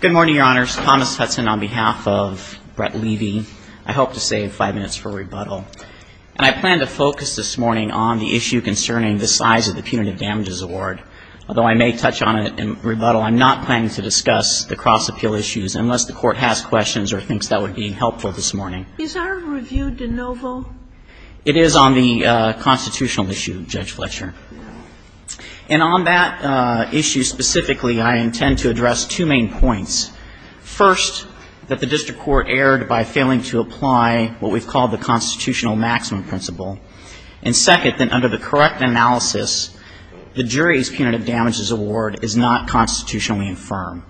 Good morning, Your Honors. Thomas Hudson on behalf of Brett Levy. I hope to save five minutes for rebuttal. And I plan to focus this morning on the issue concerning the size of the punitive damages award. Although I may touch on it in rebuttal, I'm not planning to discuss the cross appeal issues unless the court has questions or thinks that would be helpful this morning. Is our review de novo? It is on the constitutional issue, Judge Fletcher. And on that issue specifically, I intend to address two main points. First, that the district court erred by failing to apply what we've called the constitutional maximum principle. And second, that under the correct analysis, the jury's punitive damages award is not constitutionally infirm.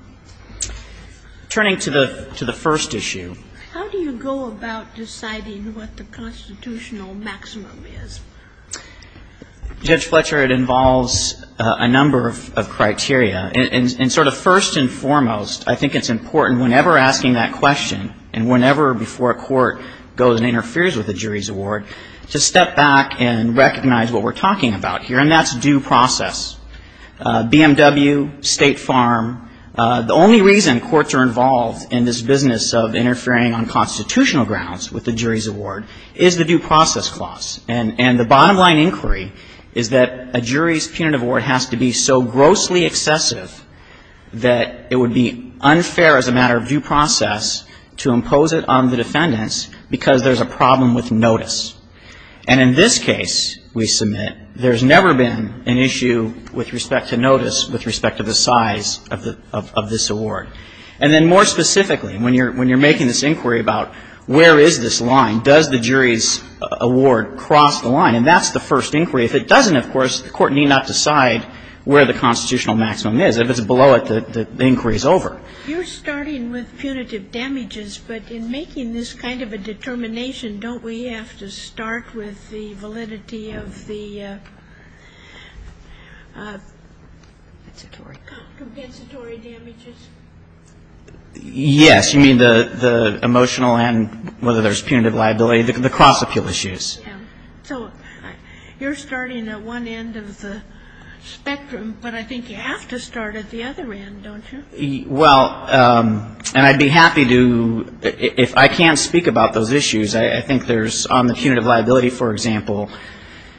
Turning to the first issue. How do you go about deciding what the constitutional maximum is? Judge Fletcher, it involves a number of criteria. And sort of first and foremost, I think it's important whenever asking that question, and whenever before a court goes and interferes with a jury's award, to step back and recognize what we're talking about here, and that's due process. BMW, State Farm, the only reason courts are involved in this business of interfering on constitutional grounds with the jury's award is the due process clause. And the bottom line inquiry is that a jury's punitive award has to be so grossly excessive that it would be unfair as a matter of due process to impose it on the defendants because there's a problem with notice. And in this case, we submit, there's never been an issue with respect to notice with respect to the size of this award. And then more specifically, when you're making this inquiry about where is this line, does the jury's award cross the line, and that's the first inquiry. If it doesn't, of course, the court need not decide where the constitutional maximum is. If it's below it, the inquiry is over. You're starting with punitive damages, but in making this kind of a determination, don't we have to start with the validity of the compensatory damages? Yes. You mean the emotional and whether there's punitive liability, the cross appeal issues. So you're starting at one end of the spectrum, but I think you have to start at the other end, don't you? Well, and I'd be happy to, if I can't speak about those issues, I think there's on the punitive liability, for example,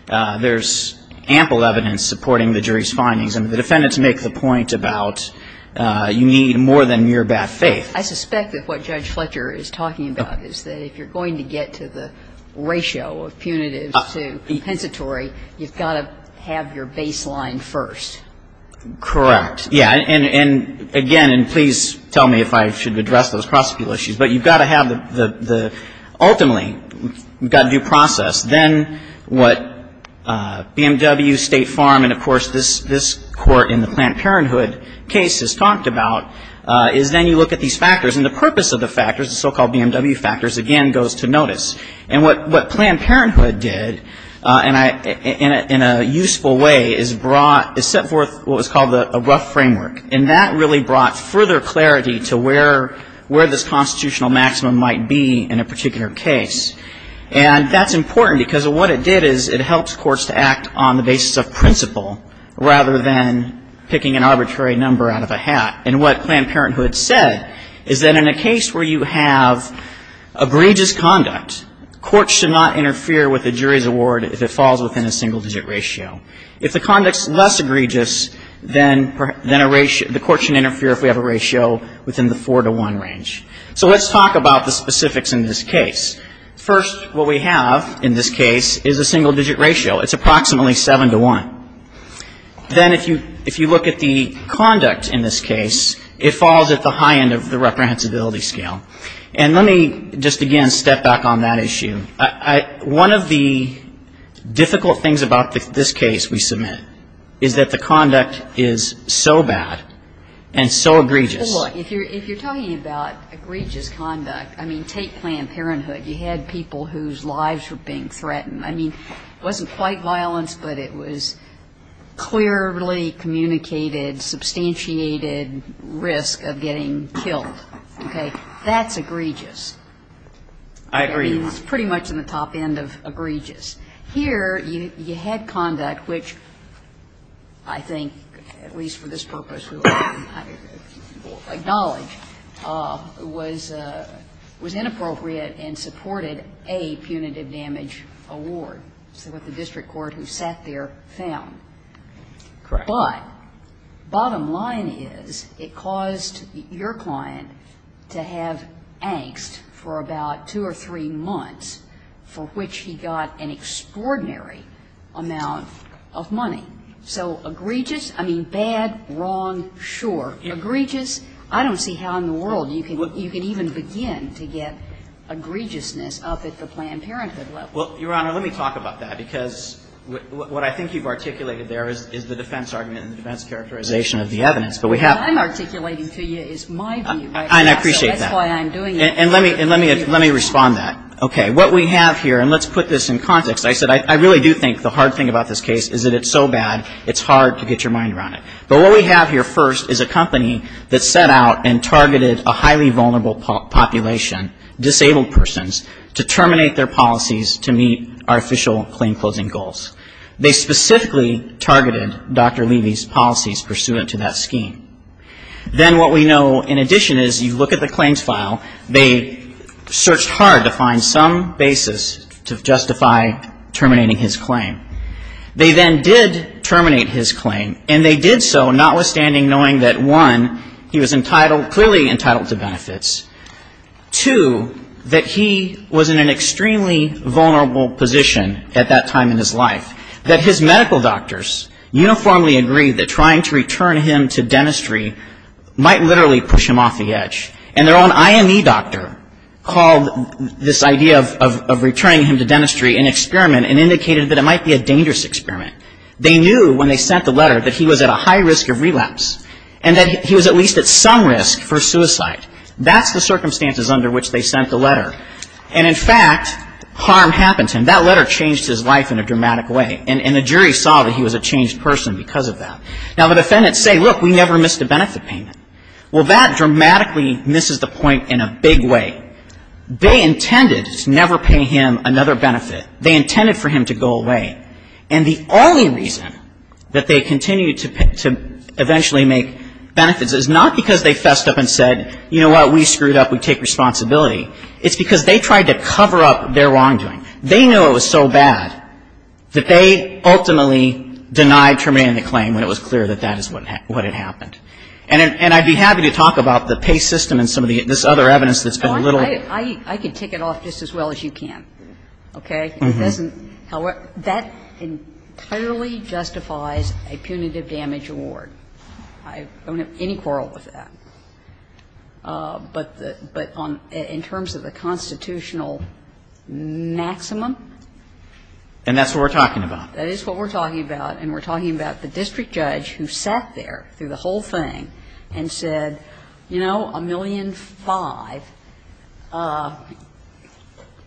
there's ample evidence supporting the jury's findings. And the defendants make the point about you need more than mere bad faith. I suspect that what Judge Fletcher is talking about is that if you're going to get to the ratio of punitive to compensatory, you've got to have your baseline first. Correct. Yeah. And again, and please tell me if I should address those cross appeal issues, but you've got to have the ultimately, you've got to do process. Then what BMW, State Farm, and of course this Court in the Planned Parenthood case has talked about is then you look at these factors. And the purpose of the factors, the so-called BMW factors, again goes to notice. And what Planned Parenthood did in a useful way is brought, is set forth what was called a rough framework. And that really brought further clarity to where this constitutional maximum might be in a particular case. And that's important because what it did is it helps courts to act on the basis of principle rather than picking an arbitrary number out of a hat. And what Planned Parenthood said is that in a case where you have egregious conduct, courts should not interfere with the jury's award if it falls within a single digit ratio. If the conduct's less egregious, then a ratio, the court should interfere if we have a ratio within the 4 to 1 range. So let's talk about the specifics in this case. First, what we have in this case is a single digit ratio. It's approximately 7 to 1. Then if you look at the conduct in this case, it falls at the high end of the reprehensibility scale. And let me just again step back on that issue. One of the difficult things about this case we submit is that the conduct is so bad and so egregious. Well, if you're talking about egregious conduct, I mean, take Planned Parenthood. You had people whose lives were being threatened. I mean, it wasn't quite violence, but it was clearly communicated, substantiated risk of getting killed. Okay? That's egregious. I agree. It's pretty much in the top end of egregious. Here you had conduct which I think, at least for this purpose, we'll acknowledge, was inappropriate and supported a punitive damage award. So what the district court who sat there found. Correct. But bottom line is it caused your client to have angst for about 2 or 3 months for which he got an extraordinary amount of money. So egregious, I mean, bad, wrong, sure. Egregious, I don't see how in the world you can even begin to get egregiousness up at the Planned Parenthood level. Well, Your Honor, let me talk about that, because what I think you've articulated there is the defense argument and the defense characterization of the evidence. But we have to. What I'm articulating to you is my view. And I appreciate that. So that's why I'm doing it. And let me respond to that. Okay. What we have here, and let's put this in context. I said I really do think the hard thing about this case is that it's so bad, it's hard to get your mind around it. But what we have here first is a company that set out and targeted a highly vulnerable population, disabled persons, to terminate their policies to meet our official claim-closing goals. They specifically targeted Dr. Levy's policies pursuant to that scheme. Then what we know in addition is you look at the claims file. They searched hard to find some basis to justify terminating his claim. They then did terminate his claim. And they did so notwithstanding knowing that, one, he was clearly entitled to benefits, two, that he was in an extremely vulnerable position at that time in his life, that his medical doctors uniformly agreed that trying to return him to dentistry might literally push him off the edge. And their own IME doctor called this idea of returning him to dentistry an experiment and indicated that it might be a dangerous experiment. They knew when they sent the letter that he was at a high risk of relapse and that he was at least at some risk for suicide. That's the circumstances under which they sent the letter. And in fact, harm happened to him. That letter changed his life in a dramatic way. And the jury saw that he was a changed person because of that. Now, the defendants say, look, we never missed a benefit payment. Well, that dramatically misses the point in a big way. They intended to never pay him another benefit. They intended for him to go away. And the only reason that they continued to eventually make benefits is not because they fessed up and said, you know what, we screwed up, we take responsibility. It's because they tried to cover up their wrongdoing. They knew it was so bad that they ultimately denied terminating the claim when it was clear that that is what had happened. And I'd be happy to talk about the pay system and some of this other evidence that's been a little. I can tick it off just as well as you can. Okay? However, that entirely justifies a punitive damage award. I don't have any quarrel with that. But in terms of the constitutional maximum. And that's what we're talking about. That is what we're talking about. And we're talking about the district judge who sat there through the whole thing and said, you know, a million five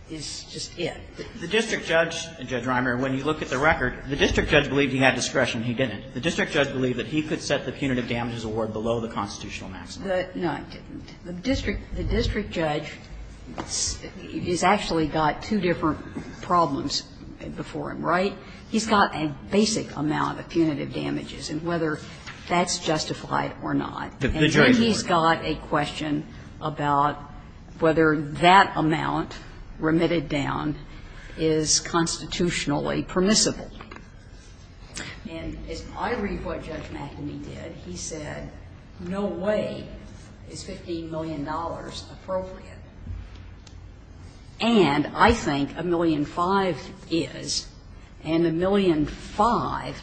is just it. The district judge, Judge Reimer, when you look at the record, the district judge believed he had discretion. He didn't. The district judge believed that he could set the punitive damages award below the constitutional maximum. No, he didn't. The district judge has actually got two different problems before him, right? He's got a basic amount of punitive damages and whether that's justified or not. And then he's got a question about whether that amount remitted down is constitutionally permissible. And as I read what Judge McEnany did, he said, no way is $15 million appropriate. And I think a million five is. And a million five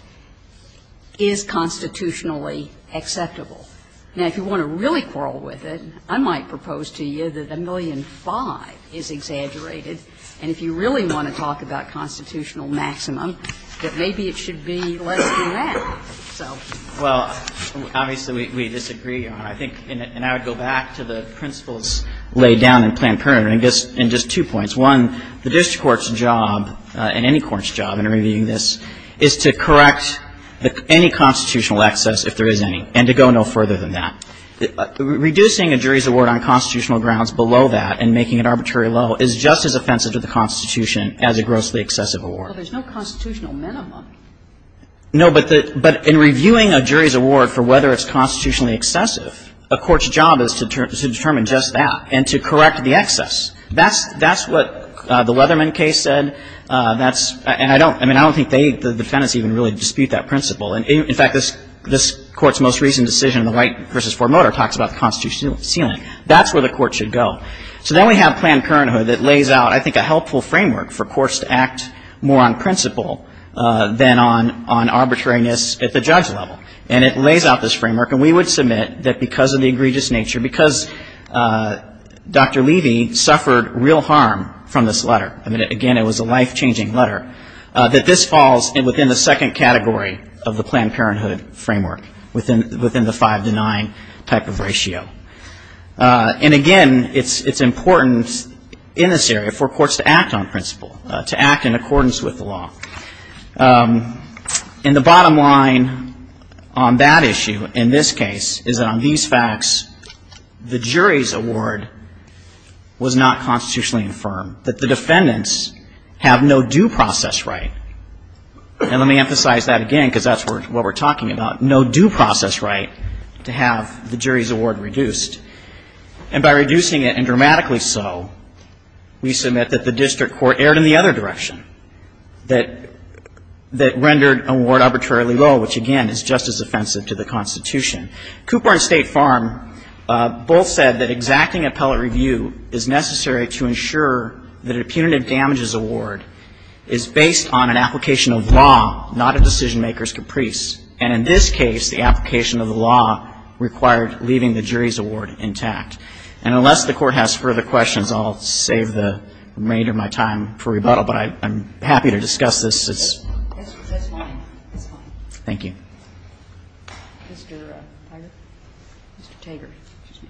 is constitutionally acceptable. Now, if you want to really quarrel with it, I might propose to you that a million five is exaggerated. And if you really want to talk about constitutional maximum, that maybe it should be less than that. So. Well, obviously, we disagree on it. I think, and I would go back to the principles laid down in Planned Parenthood in just two points. One, the district court's job, and any court's job in reviewing this, is to correct any constitutional excess, if there is any, and to go no further than that. Reducing a jury's award on constitutional grounds below that and making it arbitrary low is just as offensive to the Constitution as a grossly excessive award. Well, there's no constitutional minimum. No, but in reviewing a jury's award for whether it's constitutionally excessive, a court's job is to determine just that and to correct the excess. That's what the Leatherman case said. That's, and I don't, I mean, I don't think the defendants even really dispute that principle. In fact, this Court's most recent decision in the Wright v. Ford Motor talks about the constitutional ceiling. That's where the Court should go. So then we have Planned Parenthood that lays out, I think, a helpful framework for courts to act more on principle than on arbitrariness at the judge level. And it lays out this framework. And we would submit that because of the egregious nature, because Dr. Levy suffered real harm from this letter, I mean, again, it was a life-changing letter, that this falls within the second category of the Planned Parenthood framework, within the five to nine type of ratio. And again, it's important in this area for courts to act on principle, to act in accordance with the law. And the bottom line on that issue in this case is that on these facts, the jury's award was not constitutionally infirm, that the defendants have no due process right. And let me emphasize that again, because that's what we're talking about, no due process right to have the jury's award reduced. And by reducing it, and dramatically so, we submit that the district court erred in the other direction, that rendered award arbitrarily low, which, again, is just as offensive to the Constitution. Cooper and State Farm both said that exacting appellate review is necessary to ensure that a punitive damages award is based on an application of law, not a decision maker's caprice. And in this case, the application of the law required leaving the jury's award intact. And unless the Court has further questions, I'll save the remainder of my time for rebuttal, but I'm happy to discuss this. It's fine. It's fine. Thank you. Mr. Tiger? Mr. Taggart. Excuse me.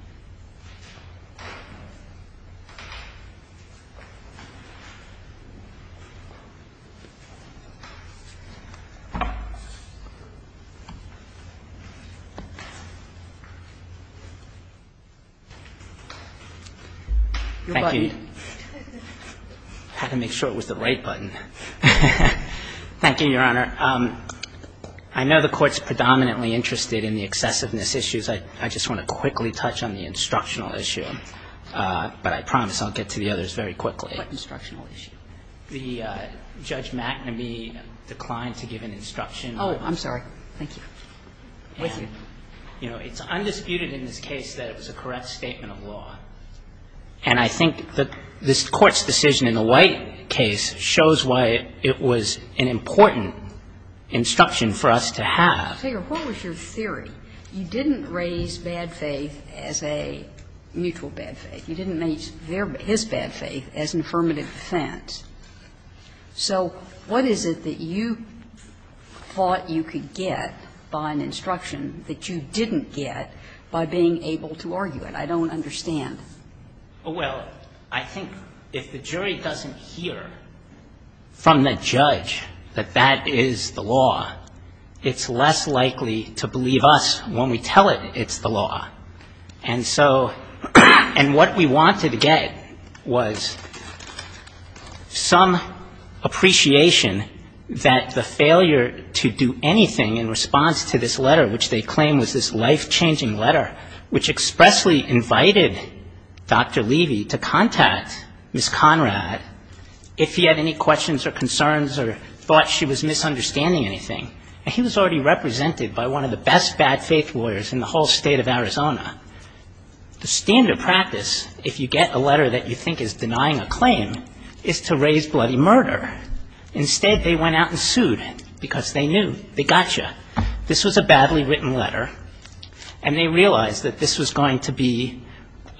Your button. Thank you. I had to make sure it was the right button. Thank you, Your Honor. I know the Court's predominantly interested in the excessiveness issues. I just want to quickly touch on the instructional issue, but I promise I'll get to the others very quickly. What instructional issue? The Judge McNamee declined to give an instruction. Oh, I'm sorry. Thank you. And, you know, it's undisputed in this case that it was a correct statement of law. And I think that this Court's decision in the White case shows why it was an important instruction for us to have. Mr. Tiger, what was your theory? You didn't raise bad faith as a mutual bad faith. You didn't raise his bad faith as an affirmative defense. So what is it that you thought you could get by an instruction that you didn't get by being able to argue it? I don't understand. Well, I think if the jury doesn't hear from the judge that that is the law, it's less likely to believe us when we tell it it's the law. And so what we wanted to get was some appreciation that the failure to do anything in response to this letter, which they claim was this life-changing letter, which expressly invited Dr. Levy to contact Ms. Conrad if he had any questions or concerns or thought she was misunderstanding anything. He was already represented by one of the best bad faith lawyers in the whole state of Arizona. The standard practice, if you get a letter that you think is denying a claim, is to raise bloody murder. Instead, they went out and sued because they knew. They got you. This was a badly written letter, and they realized that this was going to be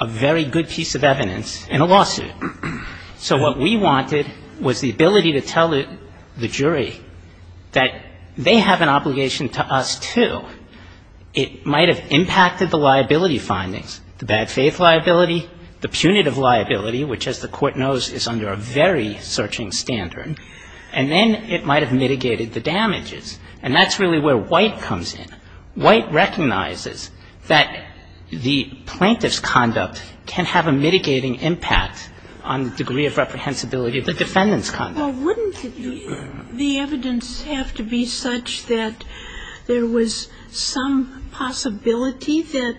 a very good piece of evidence in a lawsuit. So what we wanted was the ability to tell the jury that they have an obligation to us, too. It might have impacted the liability findings, the bad faith liability, the punitive liability, which, as the Court knows, is under a very searching standard. And then it might have mitigated the damages. And that's really where White comes in. White recognizes that the plaintiff's conduct can have a mitigating impact on the degree of reprehensibility of the defendant's conduct. Well, wouldn't the evidence have to be such that there was some possibility that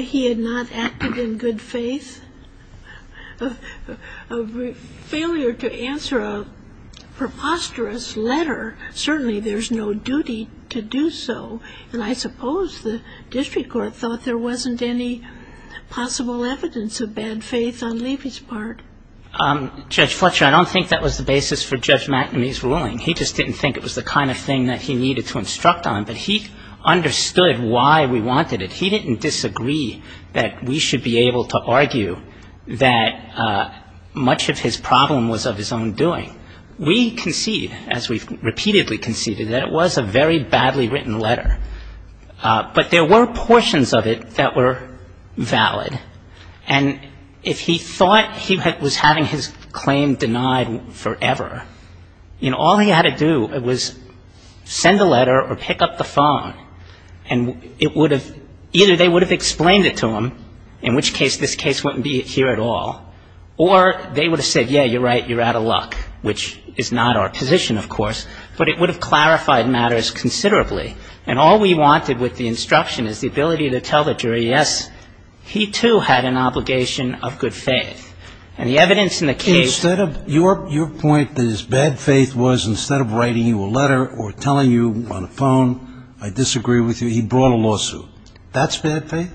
he had not acted in good faith? A failure to answer a preposterous letter, certainly there's no duty to do so. And I suppose the district court thought there wasn't any possible evidence of bad faith on Levy's part. Judge Fletcher, I don't think that was the basis for Judge McNamee's ruling. He just didn't think it was the kind of thing that he needed to instruct on. But he understood why we wanted it. He didn't disagree that we should be able to argue that much of his problem was of his own doing. We concede, as we've repeatedly conceded, that it was a very badly written letter. But there were portions of it that were valid. And if he thought he was having his claim denied forever, you know, all he had to do was send a letter or pick up the phone, and it would have — either they would have explained it to him, in which case this case wouldn't be here at all, or they would have said, yeah, you're right, you're out of luck, which is not our position, of course. But it would have clarified matters considerably. And all we wanted with the instruction is the ability to tell the jury, yes, he, too, had an obligation of good faith. And the evidence in the case — Instead of — your point is bad faith was instead of writing you a letter or telling you on a phone, I disagree with you, he brought a lawsuit. That's bad faith?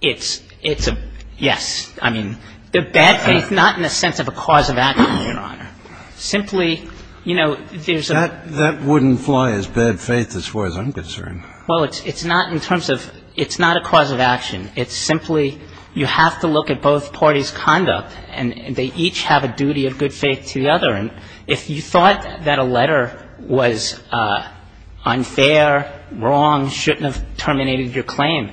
It's a — yes. I mean, the bad faith not in the sense of a cause of action, Your Honor. Simply, you know, there's a — That wouldn't fly as bad faith as far as I'm concerned. Well, it's not in terms of — it's not a cause of action. It's simply you have to look at both parties' conduct, and they each have a duty of good faith to the other. And if you thought that a letter was unfair, wrong, shouldn't have terminated your claim,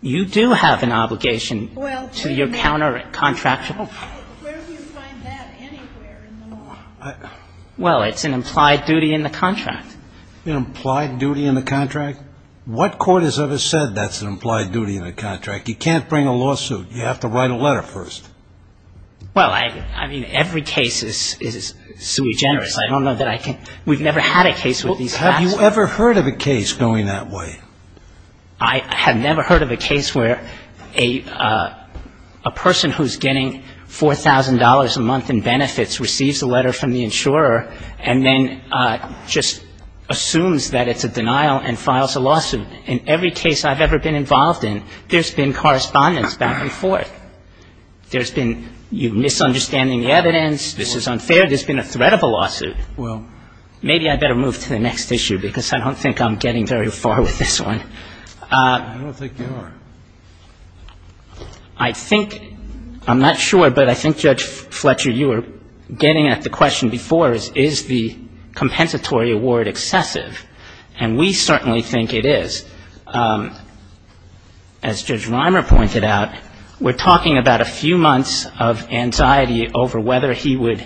you do have an obligation to your counter-contractual — Well, where do you find that anywhere in the law? Well, it's an implied duty in the contract. An implied duty in the contract? What court has ever said that's an implied duty in the contract? You can't bring a lawsuit. You have to write a letter first. Well, I mean, every case is sui generis. I don't know that I can — we've never had a case with these facts. Have you ever heard of a case going that way? I have never heard of a case where a person who's getting $4,000 a month in benefits receives a letter from the insurer and then just assumes that it's a denial and files a lawsuit. In every case I've ever been involved in, there's been correspondence back and forth. There's been you misunderstanding the evidence, this is unfair, there's been a threat of a lawsuit. Well — Maybe I'd better move to the next issue, because I don't think I'm getting very far with this one. I don't think you are. I think — I'm not sure, but I think, Judge Fletcher, you were getting at the question before, is the compensatory award excessive? And we certainly think it is. As Judge Rimer pointed out, we're talking about a few months of anxiety over whether he would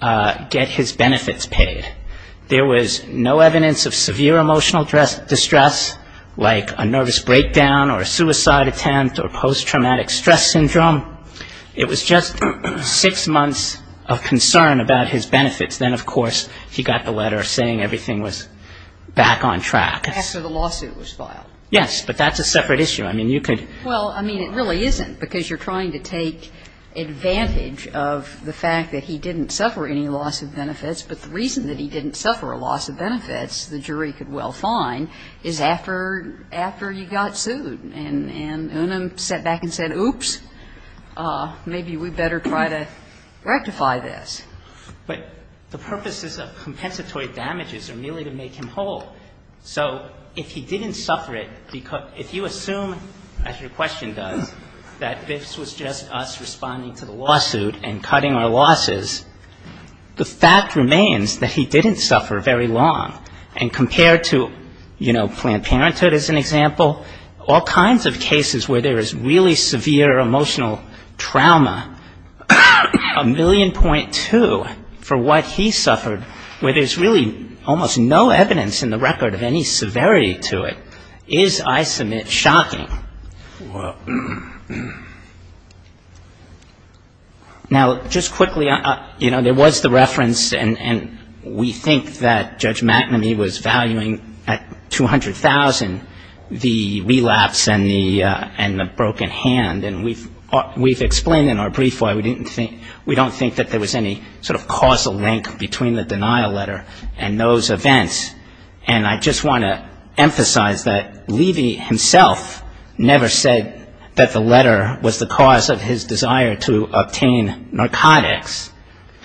get his benefits paid. There was no evidence of severe emotional distress, like a nervous breakdown or a suicide attempt or post-traumatic stress syndrome. It was just six months of concern about his benefits. Then, of course, he got the letter saying everything was back on track. After the lawsuit was filed. Yes, but that's a separate issue. I mean, you could — Well, I mean, it really isn't, because you're trying to take advantage of the fact that he didn't suffer any loss of benefits. But the reason that he didn't suffer a loss of benefits, the jury could well find, is after he got sued and Unum sat back and said, oops, maybe we better try to rectify this. But the purposes of compensatory damages are merely to make him whole. So if he didn't suffer it, if you assume, as your question does, that this was just us responding to the lawsuit and cutting our losses, the fact remains that he didn't suffer very long. And compared to, you know, Planned Parenthood as an example, all kinds of cases where there is really severe emotional trauma, a million point two for what he suffered, where there's really almost no evidence in the record of any severity to it, is, I submit, shocking. Now, just quickly, you know, there was the reference, and we think that Judge McNamee was valuing at $200,000 the relapse and the broken hand. And we've explained in our brief why we don't think that there was any sort of causal link between the denial letter and those events. And I just want to emphasize that Levy himself never said that the letter was the cause of his desire to obtain narcotics,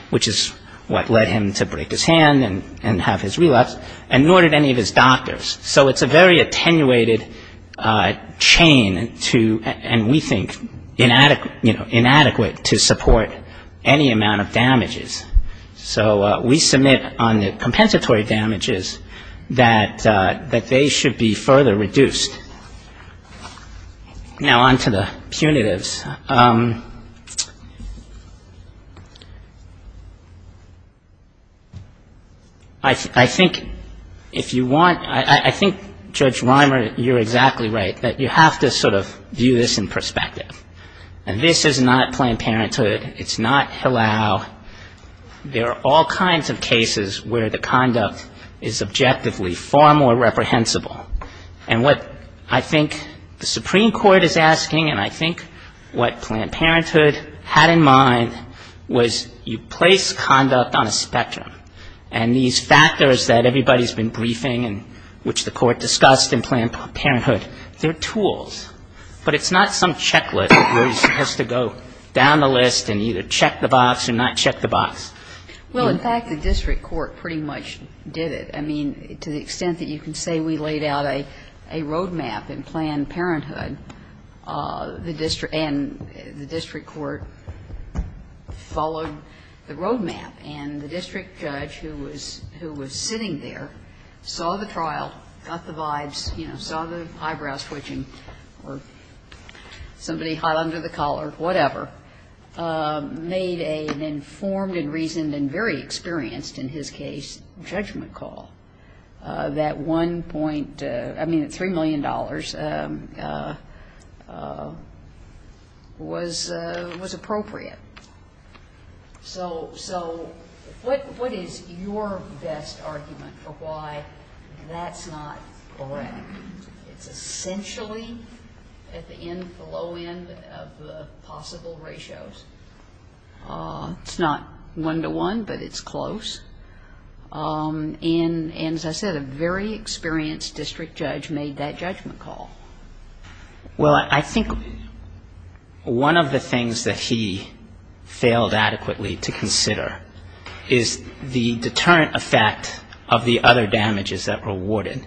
which is what led him to break his hand and have his relapse, and nor did any of his doctors. So it's a very attenuated chain to, and we think inadequate, you know, inadequate to support any amount of damages. So we submit on the compensatory damages that they should be further reduced. Now, on to the punitives. I think if you want, I think, Judge Reimer, you're exactly right, that you have to sort of view this in perspective. And this is not Planned Parenthood. It's not Hillel. There are all kinds of cases where the conduct is objectively far more reprehensible. And what I think the Supreme Court is asking, and I think what Planned Parenthood had in mind, was you place conduct on a spectrum. And these factors that everybody's been briefing and which the Court discussed in Planned Parenthood, they're tools, but it's not some checklist where you're supposed to go down the list and either check the box or not check the box. Well, in fact, the district court pretty much did it. I mean, to the extent that you can say we laid out a road map in Planned Parenthood, the district and the district court followed the road map. And the district judge who was sitting there saw the trial, got the vibes, you know, saw the eyebrows twitching or somebody hot under the collar, whatever, made an informed and reasoned and very experienced, in his case, judgment call that one point, I mean, $3 million was appropriate. So what is your best argument for why that's not correct? It's essentially at the end, the low end of the possible ratios. It's not one-to-one, but it's close. And as I said, a very experienced district judge made that judgment call. Well, I think one of the things that he failed adequately to consider is the deterrent effect of the other damages that were awarded.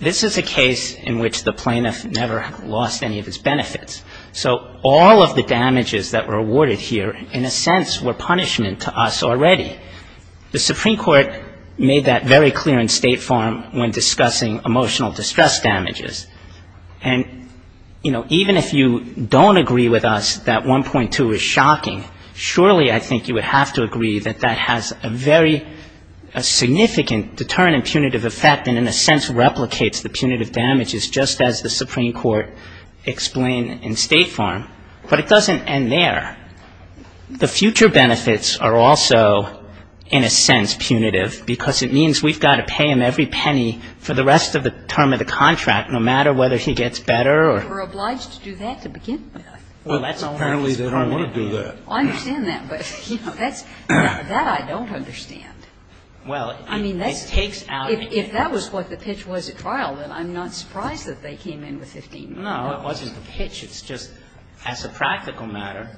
This is a case in which the plaintiff never lost any of his benefits. So all of the damages that were awarded here in a sense were punishment to us already. The Supreme Court made that very clear in State Farm when discussing emotional distress damages. And, you know, even if you don't agree with us that 1.2 is shocking, surely I think you would have to agree that that has a very significant deterrent and punitive effect and in a sense replicates the punitive damages just as the Supreme Court explained in State Farm. But it doesn't end there. The future benefits are also in a sense punitive because it means we've got to pay him every penny for the rest of the term of the contract, no matter whether he gets better or not. We're obliged to do that to begin with. Well, that's apparently they don't want to do that. I understand that. But, you know, that's that I don't understand. Well, I mean, it takes out. Well, if that was what the pitch was at trial, then I'm not surprised that they came in with 15 million. No, it wasn't the pitch. It's just as a practical matter,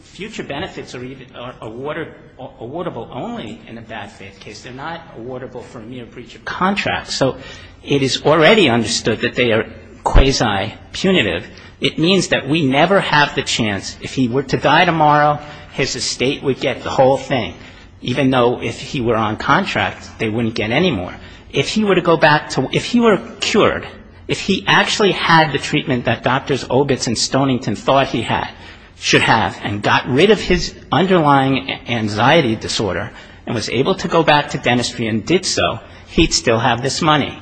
future benefits are even awarded or awardable only in a bad faith case. They're not awardable for mere breach of contract. So it is already understood that they are quasi-punitive. It means that we never have the chance. If he were to die tomorrow, his estate would get the whole thing. Even though if he were on contract, they wouldn't get any more. If he were to go back to if he were cured, if he actually had the treatment that Doctors Obitz and Stonington thought he had should have and got rid of his underlying anxiety disorder and was able to go back to dentistry and did so, he'd still have this money.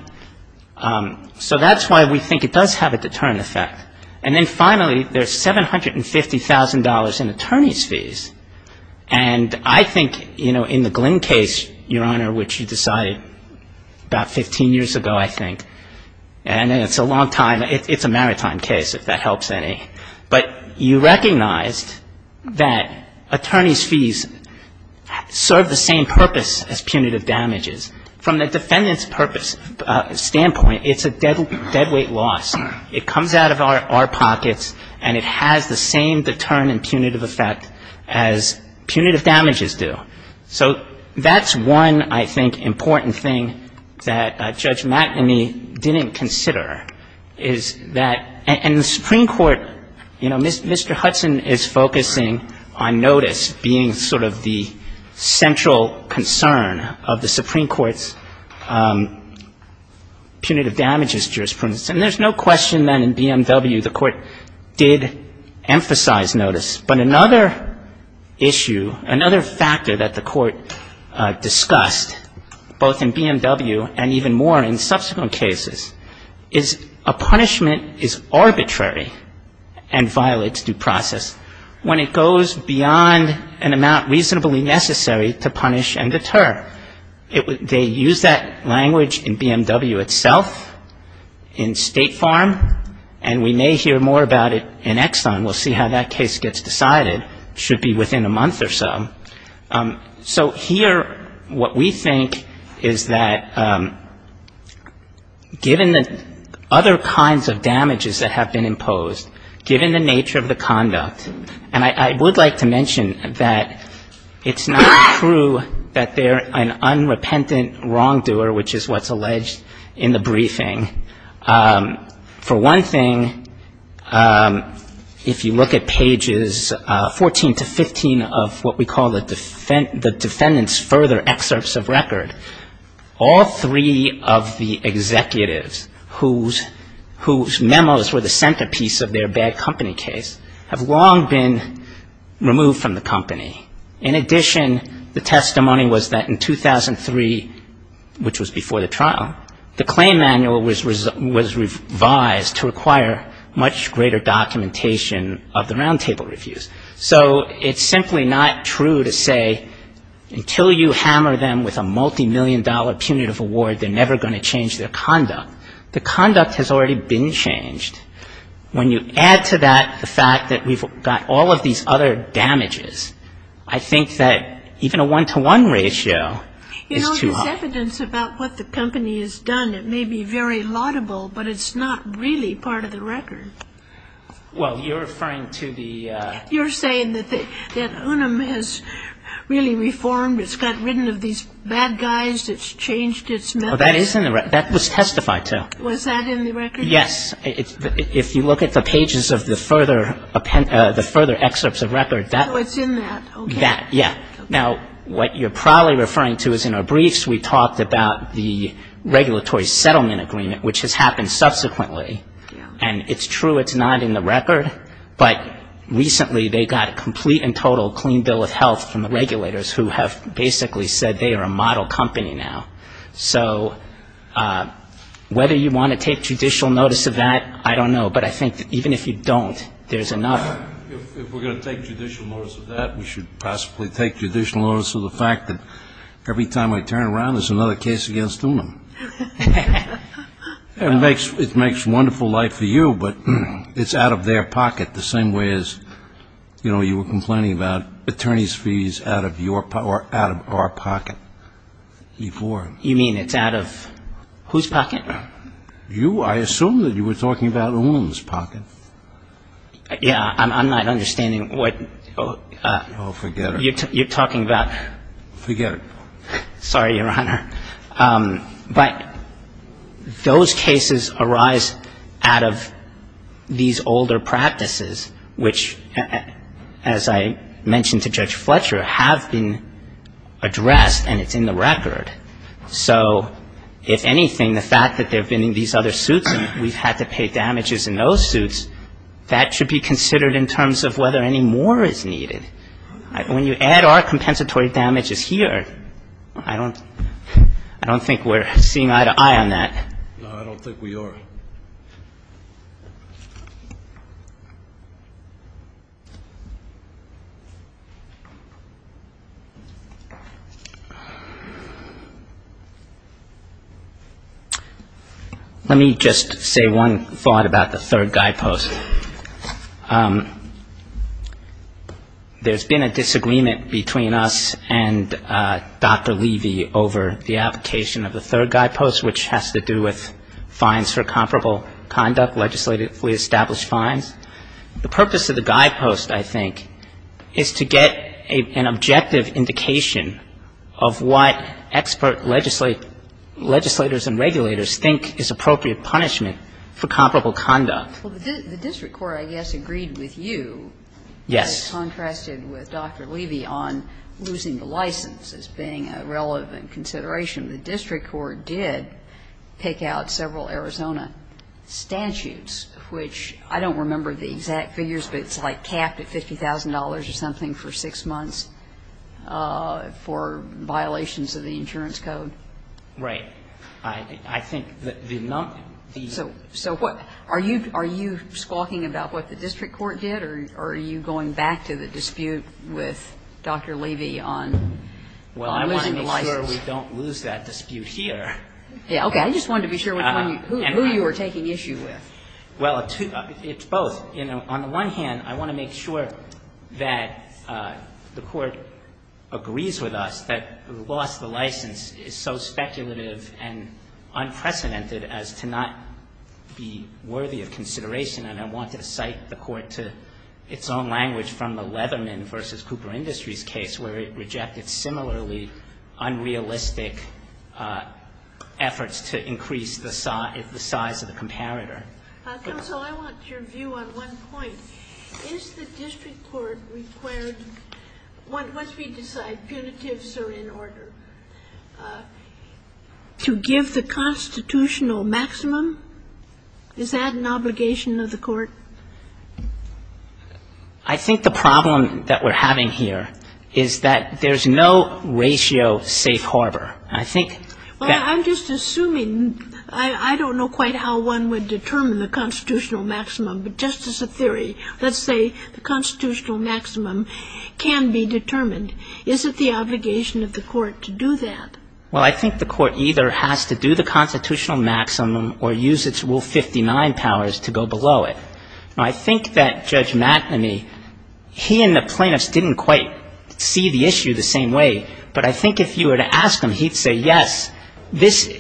So that's why we think it does have a deterrent effect. And I think, you know, in the Glynn case, Your Honor, which you decided about 15 years ago, I think, and it's a long time. It's a maritime case, if that helps any. But you recognized that attorney's fees serve the same purpose as punitive damages. From the defendant's purpose standpoint, it's a deadweight loss. It comes out of our pockets and it has the same deterrent and punitive effect as punitive damages do. So that's one, I think, important thing that Judge McNamee didn't consider, is that in the Supreme Court, you know, Mr. Hudson is focusing on notice being sort of the central concern of the Supreme Court's punitive damages jurisprudence. And there's no question then in BMW the Court did emphasize notice. But another issue, another factor that the Court discussed, both in BMW and even more in subsequent cases, is a punishment is arbitrary and violates due process when it goes beyond an amount reasonably necessary to punish and deter. They use that language in BMW itself, in State Farm, and we may hear more about it in Exxon. We'll see how that case gets decided. Should be within a month or so. So here what we think is that given the other kinds of damages that have been imposed, given the nature of the conduct, and I would like to mention that it's not true that they're an unrepentant wrongdoer, which is what's alleged in the briefing. For one thing, if you look at pages 14 to 15 of what we call the defendant's further excerpts of record, all three of the executives whose memos were the centerpiece of their bad company case have long been removed from the company. In addition, the testimony was that in 2003, which was before the trial, the claim manual was revised to require much greater documentation of the roundtable reviews. So it's simply not true to say until you hammer them with a multimillion dollar punitive award, they're never going to change their conduct. The conduct has already been changed. When you add to that the fact that we've got all of these other damages, I think that even a one-to-one ratio is too high. You know, there's evidence about what the company has done. It may be very laudable, but it's not really part of the record. Well, you're referring to the ‑‑ You're saying that Unum has really reformed, it's got ridden of these bad guys, it's changed its methods. Well, that is in the record. That was testified to. Was that in the record? Yes. If you look at the pages of the further excerpts of record, that ‑‑ Oh, it's in that. Okay. That, yeah. Now, what you're probably referring to is in our briefs, we talked about the regulatory settlement agreement, which has happened subsequently. And it's true it's not in the record, but recently they got a complete and total clean bill of health from the regulators who have basically said they are a model company now. So whether you want to take judicial notice of that, I don't know. But I think even if you don't, there's enough. If we're going to take judicial notice of that, we should possibly take judicial notice of the fact that every time I turn around, there's another case against Unum. It makes wonderful life for you, but it's out of their pocket the same way as, you were complaining about attorney's fees out of our pocket before. You mean it's out of whose pocket? You. I assume that you were talking about Unum's pocket. Yeah. I'm not understanding what ‑‑ Oh, forget it. You're talking about ‑‑ Forget it. Sorry, Your Honor. But those cases arise out of these older practices, which, as I mentioned to Judge Fletcher, have been addressed and it's in the record. So if anything, the fact that there have been these other suits and we've had to pay damages in those suits, that should be considered in terms of whether any more is needed. When you add our compensatory damages here, I don't think we're seeing eye to eye on that. No, I don't think we are. Let me just say one thought about the third guidepost. There's been a disagreement between us and Dr. Levy over the application of the third guidepost, which has to do with fines for comparable conduct, legislatively established fines. The purpose of the guidepost, I think, is to get an objective indication of what expert legislators and regulators think is appropriate punishment for comparable conduct. Well, the district court, I guess, agreed with you. Yes. It contrasted with Dr. Levy on losing the license as being a relevant consideration. The district court did pick out several Arizona statutes, which I don't remember the exact figures, but it's like capped at $50,000 or something for six months for violations of the insurance code. Right. I think the number of these. So what? Are you squawking about what the district court did, or are you going back to the dispute with Dr. Levy on losing the license? Well, I wanted to make sure we don't lose that dispute here. Okay. I just wanted to be sure who you were taking issue with. Well, it's both. On the one hand, I want to make sure that the court agrees with us that the loss of the license is not a punitive and unprecedented as to not be worthy of consideration. And I want to cite the court to its own language from the Leatherman v. Cooper Industries case, where it rejected similarly unrealistic efforts to increase the size of the comparator. Counsel, I want your view on one point. Is the district court required once we decide punitives are in order? To give the constitutional maximum? Is that an obligation of the court? I think the problem that we're having here is that there's no ratio safe harbor. I think that. Well, I'm just assuming. I don't know quite how one would determine the constitutional maximum. But just as a theory, let's say the constitutional maximum can be determined. Is it the obligation of the court to do that? Well, I think the court either has to do the constitutional maximum or use its Rule 59 powers to go below it. I think that Judge McNamee, he and the plaintiffs didn't quite see the issue the same way. But I think if you were to ask him, he'd say, yes, this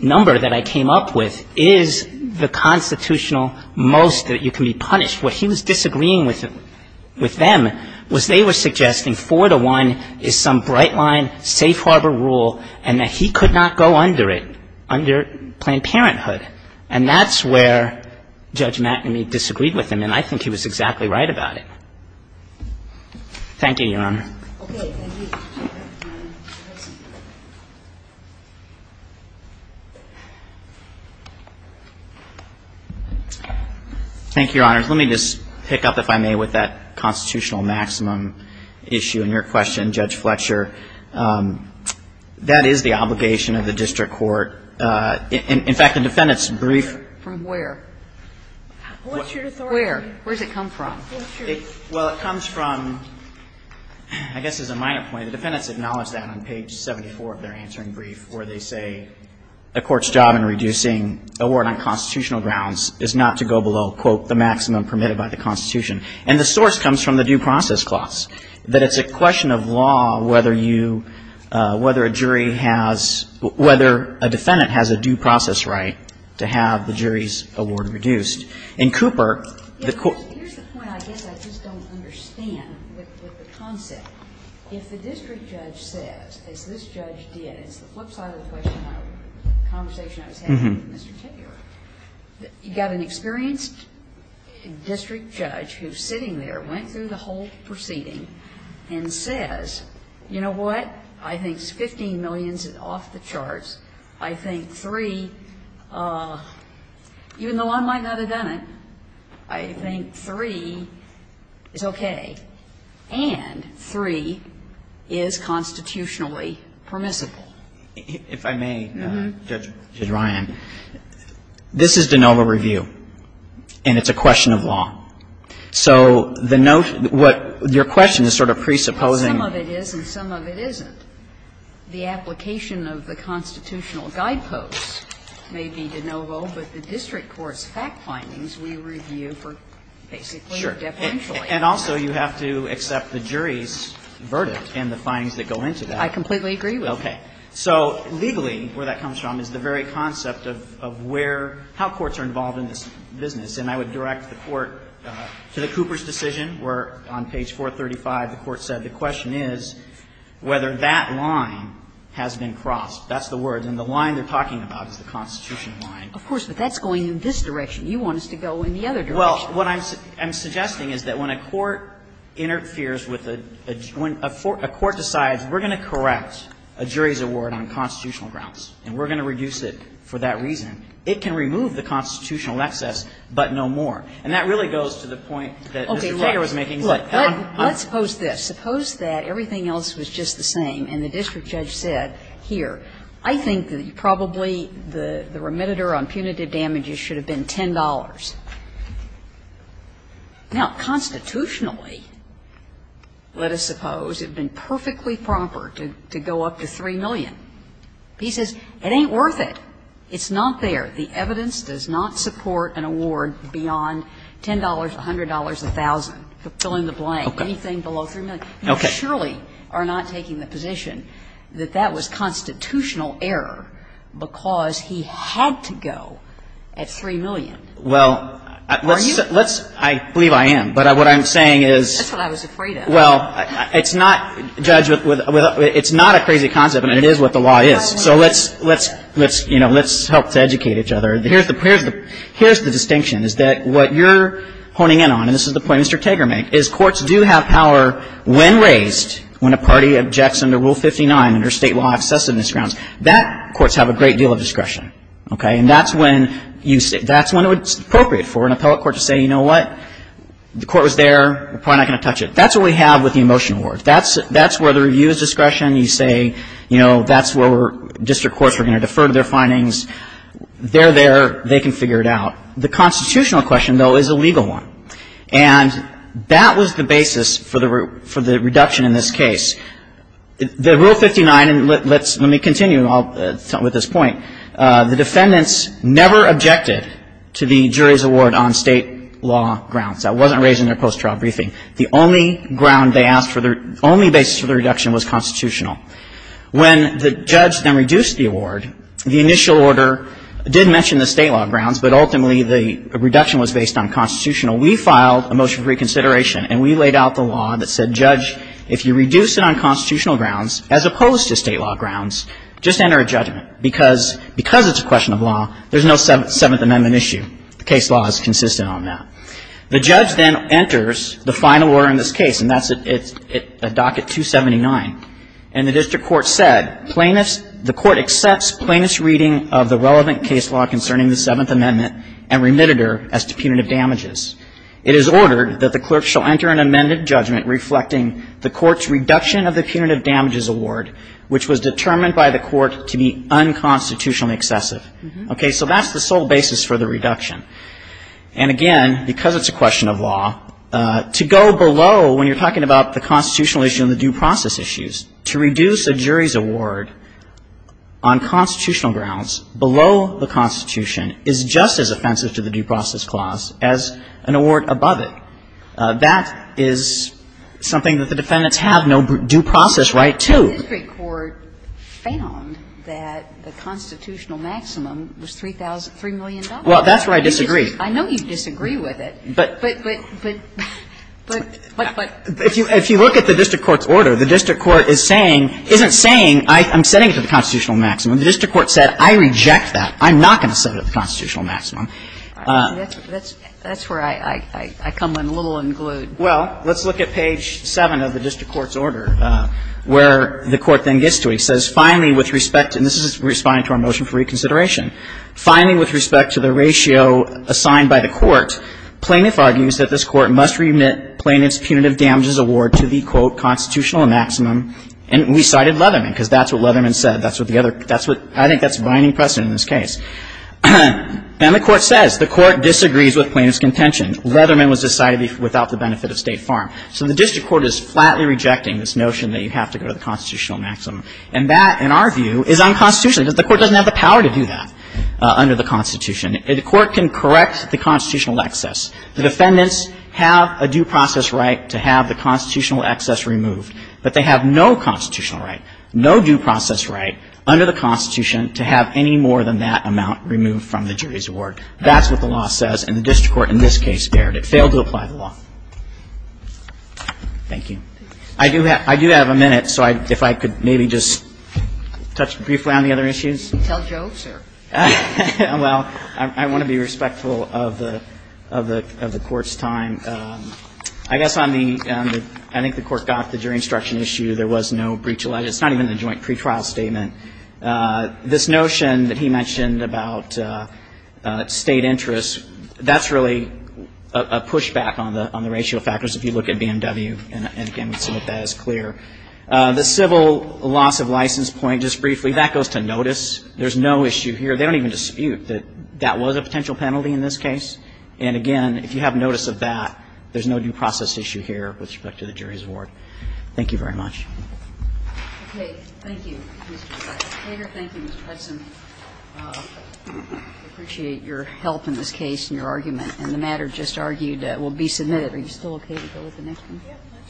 number that I came up with is the constitutional most that you can be punished. What he was disagreeing with them was they were suggesting 4 to 1 is some bright line, safe harbor rule, and that he could not go under it, under Planned Parenthood. And that's where Judge McNamee disagreed with him, and I think he was exactly right about it. Thank you, Your Honor. Okay. Thank you. Thank you, Your Honor. Let me just pick up, if I may, with that constitutional maximum issue in your question, Judge Fletcher. That is the obligation of the district court. In fact, the defendant's brief. From where? What's your authority? Where? Where does it come from? Well, it comes from, I guess as a minor point, the defendants acknowledge that on page 74 of their answering brief, where they say, a court's job in reducing award on constitutional grounds is not to go below, quote, the maximum permitted by the Constitution. And the source comes from the due process clause, that it's a question of law whether you, whether a jury has, whether a defendant has a due process right to have the jury's award reduced. In Cooper, the court ---- Here's the point I guess I just don't understand with the concept. If the district judge says, as this judge did, it's the flip side of the question I was, the conversation I was having with Mr. Kibler. You've got an experienced district judge who's sitting there, went through the whole proceeding, and says, you know what? I think $15 million is off the charts. I think 3, even though I might not have done it, I think 3 is okay. And 3 is constitutionally permissible. If I may, Judge Ryan, this is de novo review, and it's a question of law. So the note, what your question is sort of presupposing ---- Some of it is and some of it isn't. The application of the constitutional guideposts may be de novo, but the district court's fact findings we review for basically deferentially. And also you have to accept the jury's verdict and the findings that go into that. I completely agree with that. Okay. So legally, where that comes from is the very concept of where, how courts are involved in this business. And I would direct the Court to the Cooper's decision, where on page 435 the Court said the question is whether that line has been crossed. That's the words. And the line they're talking about is the constitutional line. Of course. But that's going in this direction. You want us to go in the other direction. Well, what I'm suggesting is that when a court interferes with a joint ---- when a court decides we're going to correct a jury's award on constitutional grounds and we're going to reduce it for that reason, it can remove the constitutional excess but no more. And that really goes to the point that Mr. Kagan was making. Let's suppose this. Suppose that everything else was just the same and the district judge said, here, I think that probably the remediator on punitive damages should have been $10. Now, constitutionally, let us suppose it had been perfectly proper to go up to 3 million. He says, it ain't worth it. It's not there. The evidence does not support an award beyond $10, $100, $1,000, filling the blank. Anything below 3 million. Okay. You surely are not taking the position that that was constitutional error because he had to go at 3 million. Well, let's ---- Are you? I believe I am. But what I'm saying is ---- That's what I was afraid of. Well, it's not, Judge, it's not a crazy concept, and it is what the law is. So let's, you know, let's help to educate each other. Here's the distinction, is that what you're honing in on, and this is the point Mr. Tager made, is courts do have power when raised, when a party objects under Rule 59, under State law accessiveness grounds. That courts have a great deal of discretion. Okay. And that's when you say, that's when it's appropriate for an appellate court to say, you know what? The court was there. We're probably not going to touch it. That's what we have with the Emotion Award. That's where the review is discretion. You say, you know, that's where district courts are going to defer their findings. They're there. They can figure it out. The constitutional question, though, is a legal one. And that was the basis for the reduction in this case. The Rule 59, and let's ---- let me continue with this point. The defendants never objected to the jury's award on State law grounds. That wasn't raised in their post-trial briefing. The only ground they asked for, the only basis for the reduction was constitutional. When the judge then reduced the award, the initial order did mention the State law grounds, but ultimately the reduction was based on constitutional. We filed a motion for reconsideration, and we laid out the law that said, Judge, if you reduce it on constitutional grounds, as opposed to State law grounds, just enter a judgment. Because it's a question of law, there's no Seventh Amendment issue. The case law is consistent on that. The judge then enters the final order in this case, and that's at docket 279. And the district court said, plainness ---- the court accepts plainness reading of the relevant case law concerning the Seventh Amendment and remitted her as to punitive damages. It is ordered that the clerk shall enter an amended judgment reflecting the court's reduction of the punitive damages award, which was determined by the court to be unconstitutionally excessive. Okay. So that's the sole basis for the reduction. And again, because it's a question of law, to go below when you're talking about the constitutional issue and the due process issues, to reduce a jury's award on constitutional grounds below the Constitution is just as offensive to the due process clause as an award above it. That is something that the defendants have no due process right to. The district court found that the constitutional maximum was $3,000 ---- $3 million. And so that's where I disagree. Kagan. Well, that's where I disagree. I know you disagree with it. But ---- but if you look at the district court's order, the district court is saying ---- isn't saying I'm setting it to the constitutional maximum. The district court said I reject that. I'm not going to set it to the constitutional maximum. That's where I come in a little unglued. Well, let's look at page 7 of the district court's order where the court then gets to it. It says, finally, with respect to ---- and this is responding to our motion for reconsideration. Finally, with respect to the ratio assigned by the court, plaintiff argues that this court must remit plaintiff's punitive damages award to the, quote, constitutional maximum. And we cited Leatherman because that's what Leatherman said. That's what the other ---- that's what ---- I think that's binding precedent in this case. And the court says the court disagrees with plaintiff's contention. Leatherman was decided without the benefit of State Farm. So the district court is flatly rejecting this notion that you have to go to the constitutional maximum. And that, in our view, is unconstitutional. The court doesn't have the power to do that under the Constitution. The court can correct the constitutional excess. The defendants have a due process right to have the constitutional excess removed, but they have no constitutional right, no due process right under the Constitution to have any more than that amount removed from the jury's award. That's what the law says. And the district court in this case dared. It failed to apply the law. Thank you. I do have a minute, so if I could maybe just touch briefly on the other issues. Tell Joe, sir. Well, I want to be respectful of the Court's time. I guess on the ---- I think the Court got the jury instruction issue. There was no breach of legislation. It's not even the joint pretrial statement. This notion that he mentioned about state interests, that's really a pushback on the ratio of factors if you look at BMW. And, again, we've seen that that is clear. The civil loss of license point, just briefly, that goes to notice. There's no issue here. They don't even dispute that that was a potential penalty in this case. And, again, if you have notice of that, there's no due process issue here with respect to the jury's award. Thank you very much. Okay. Thank you. Thank you, Mr. Hudson. I appreciate your help in this case and your argument. And the matter just argued will be submitted. Are you still okay to go with the next one?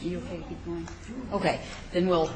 Are you okay? Keep going?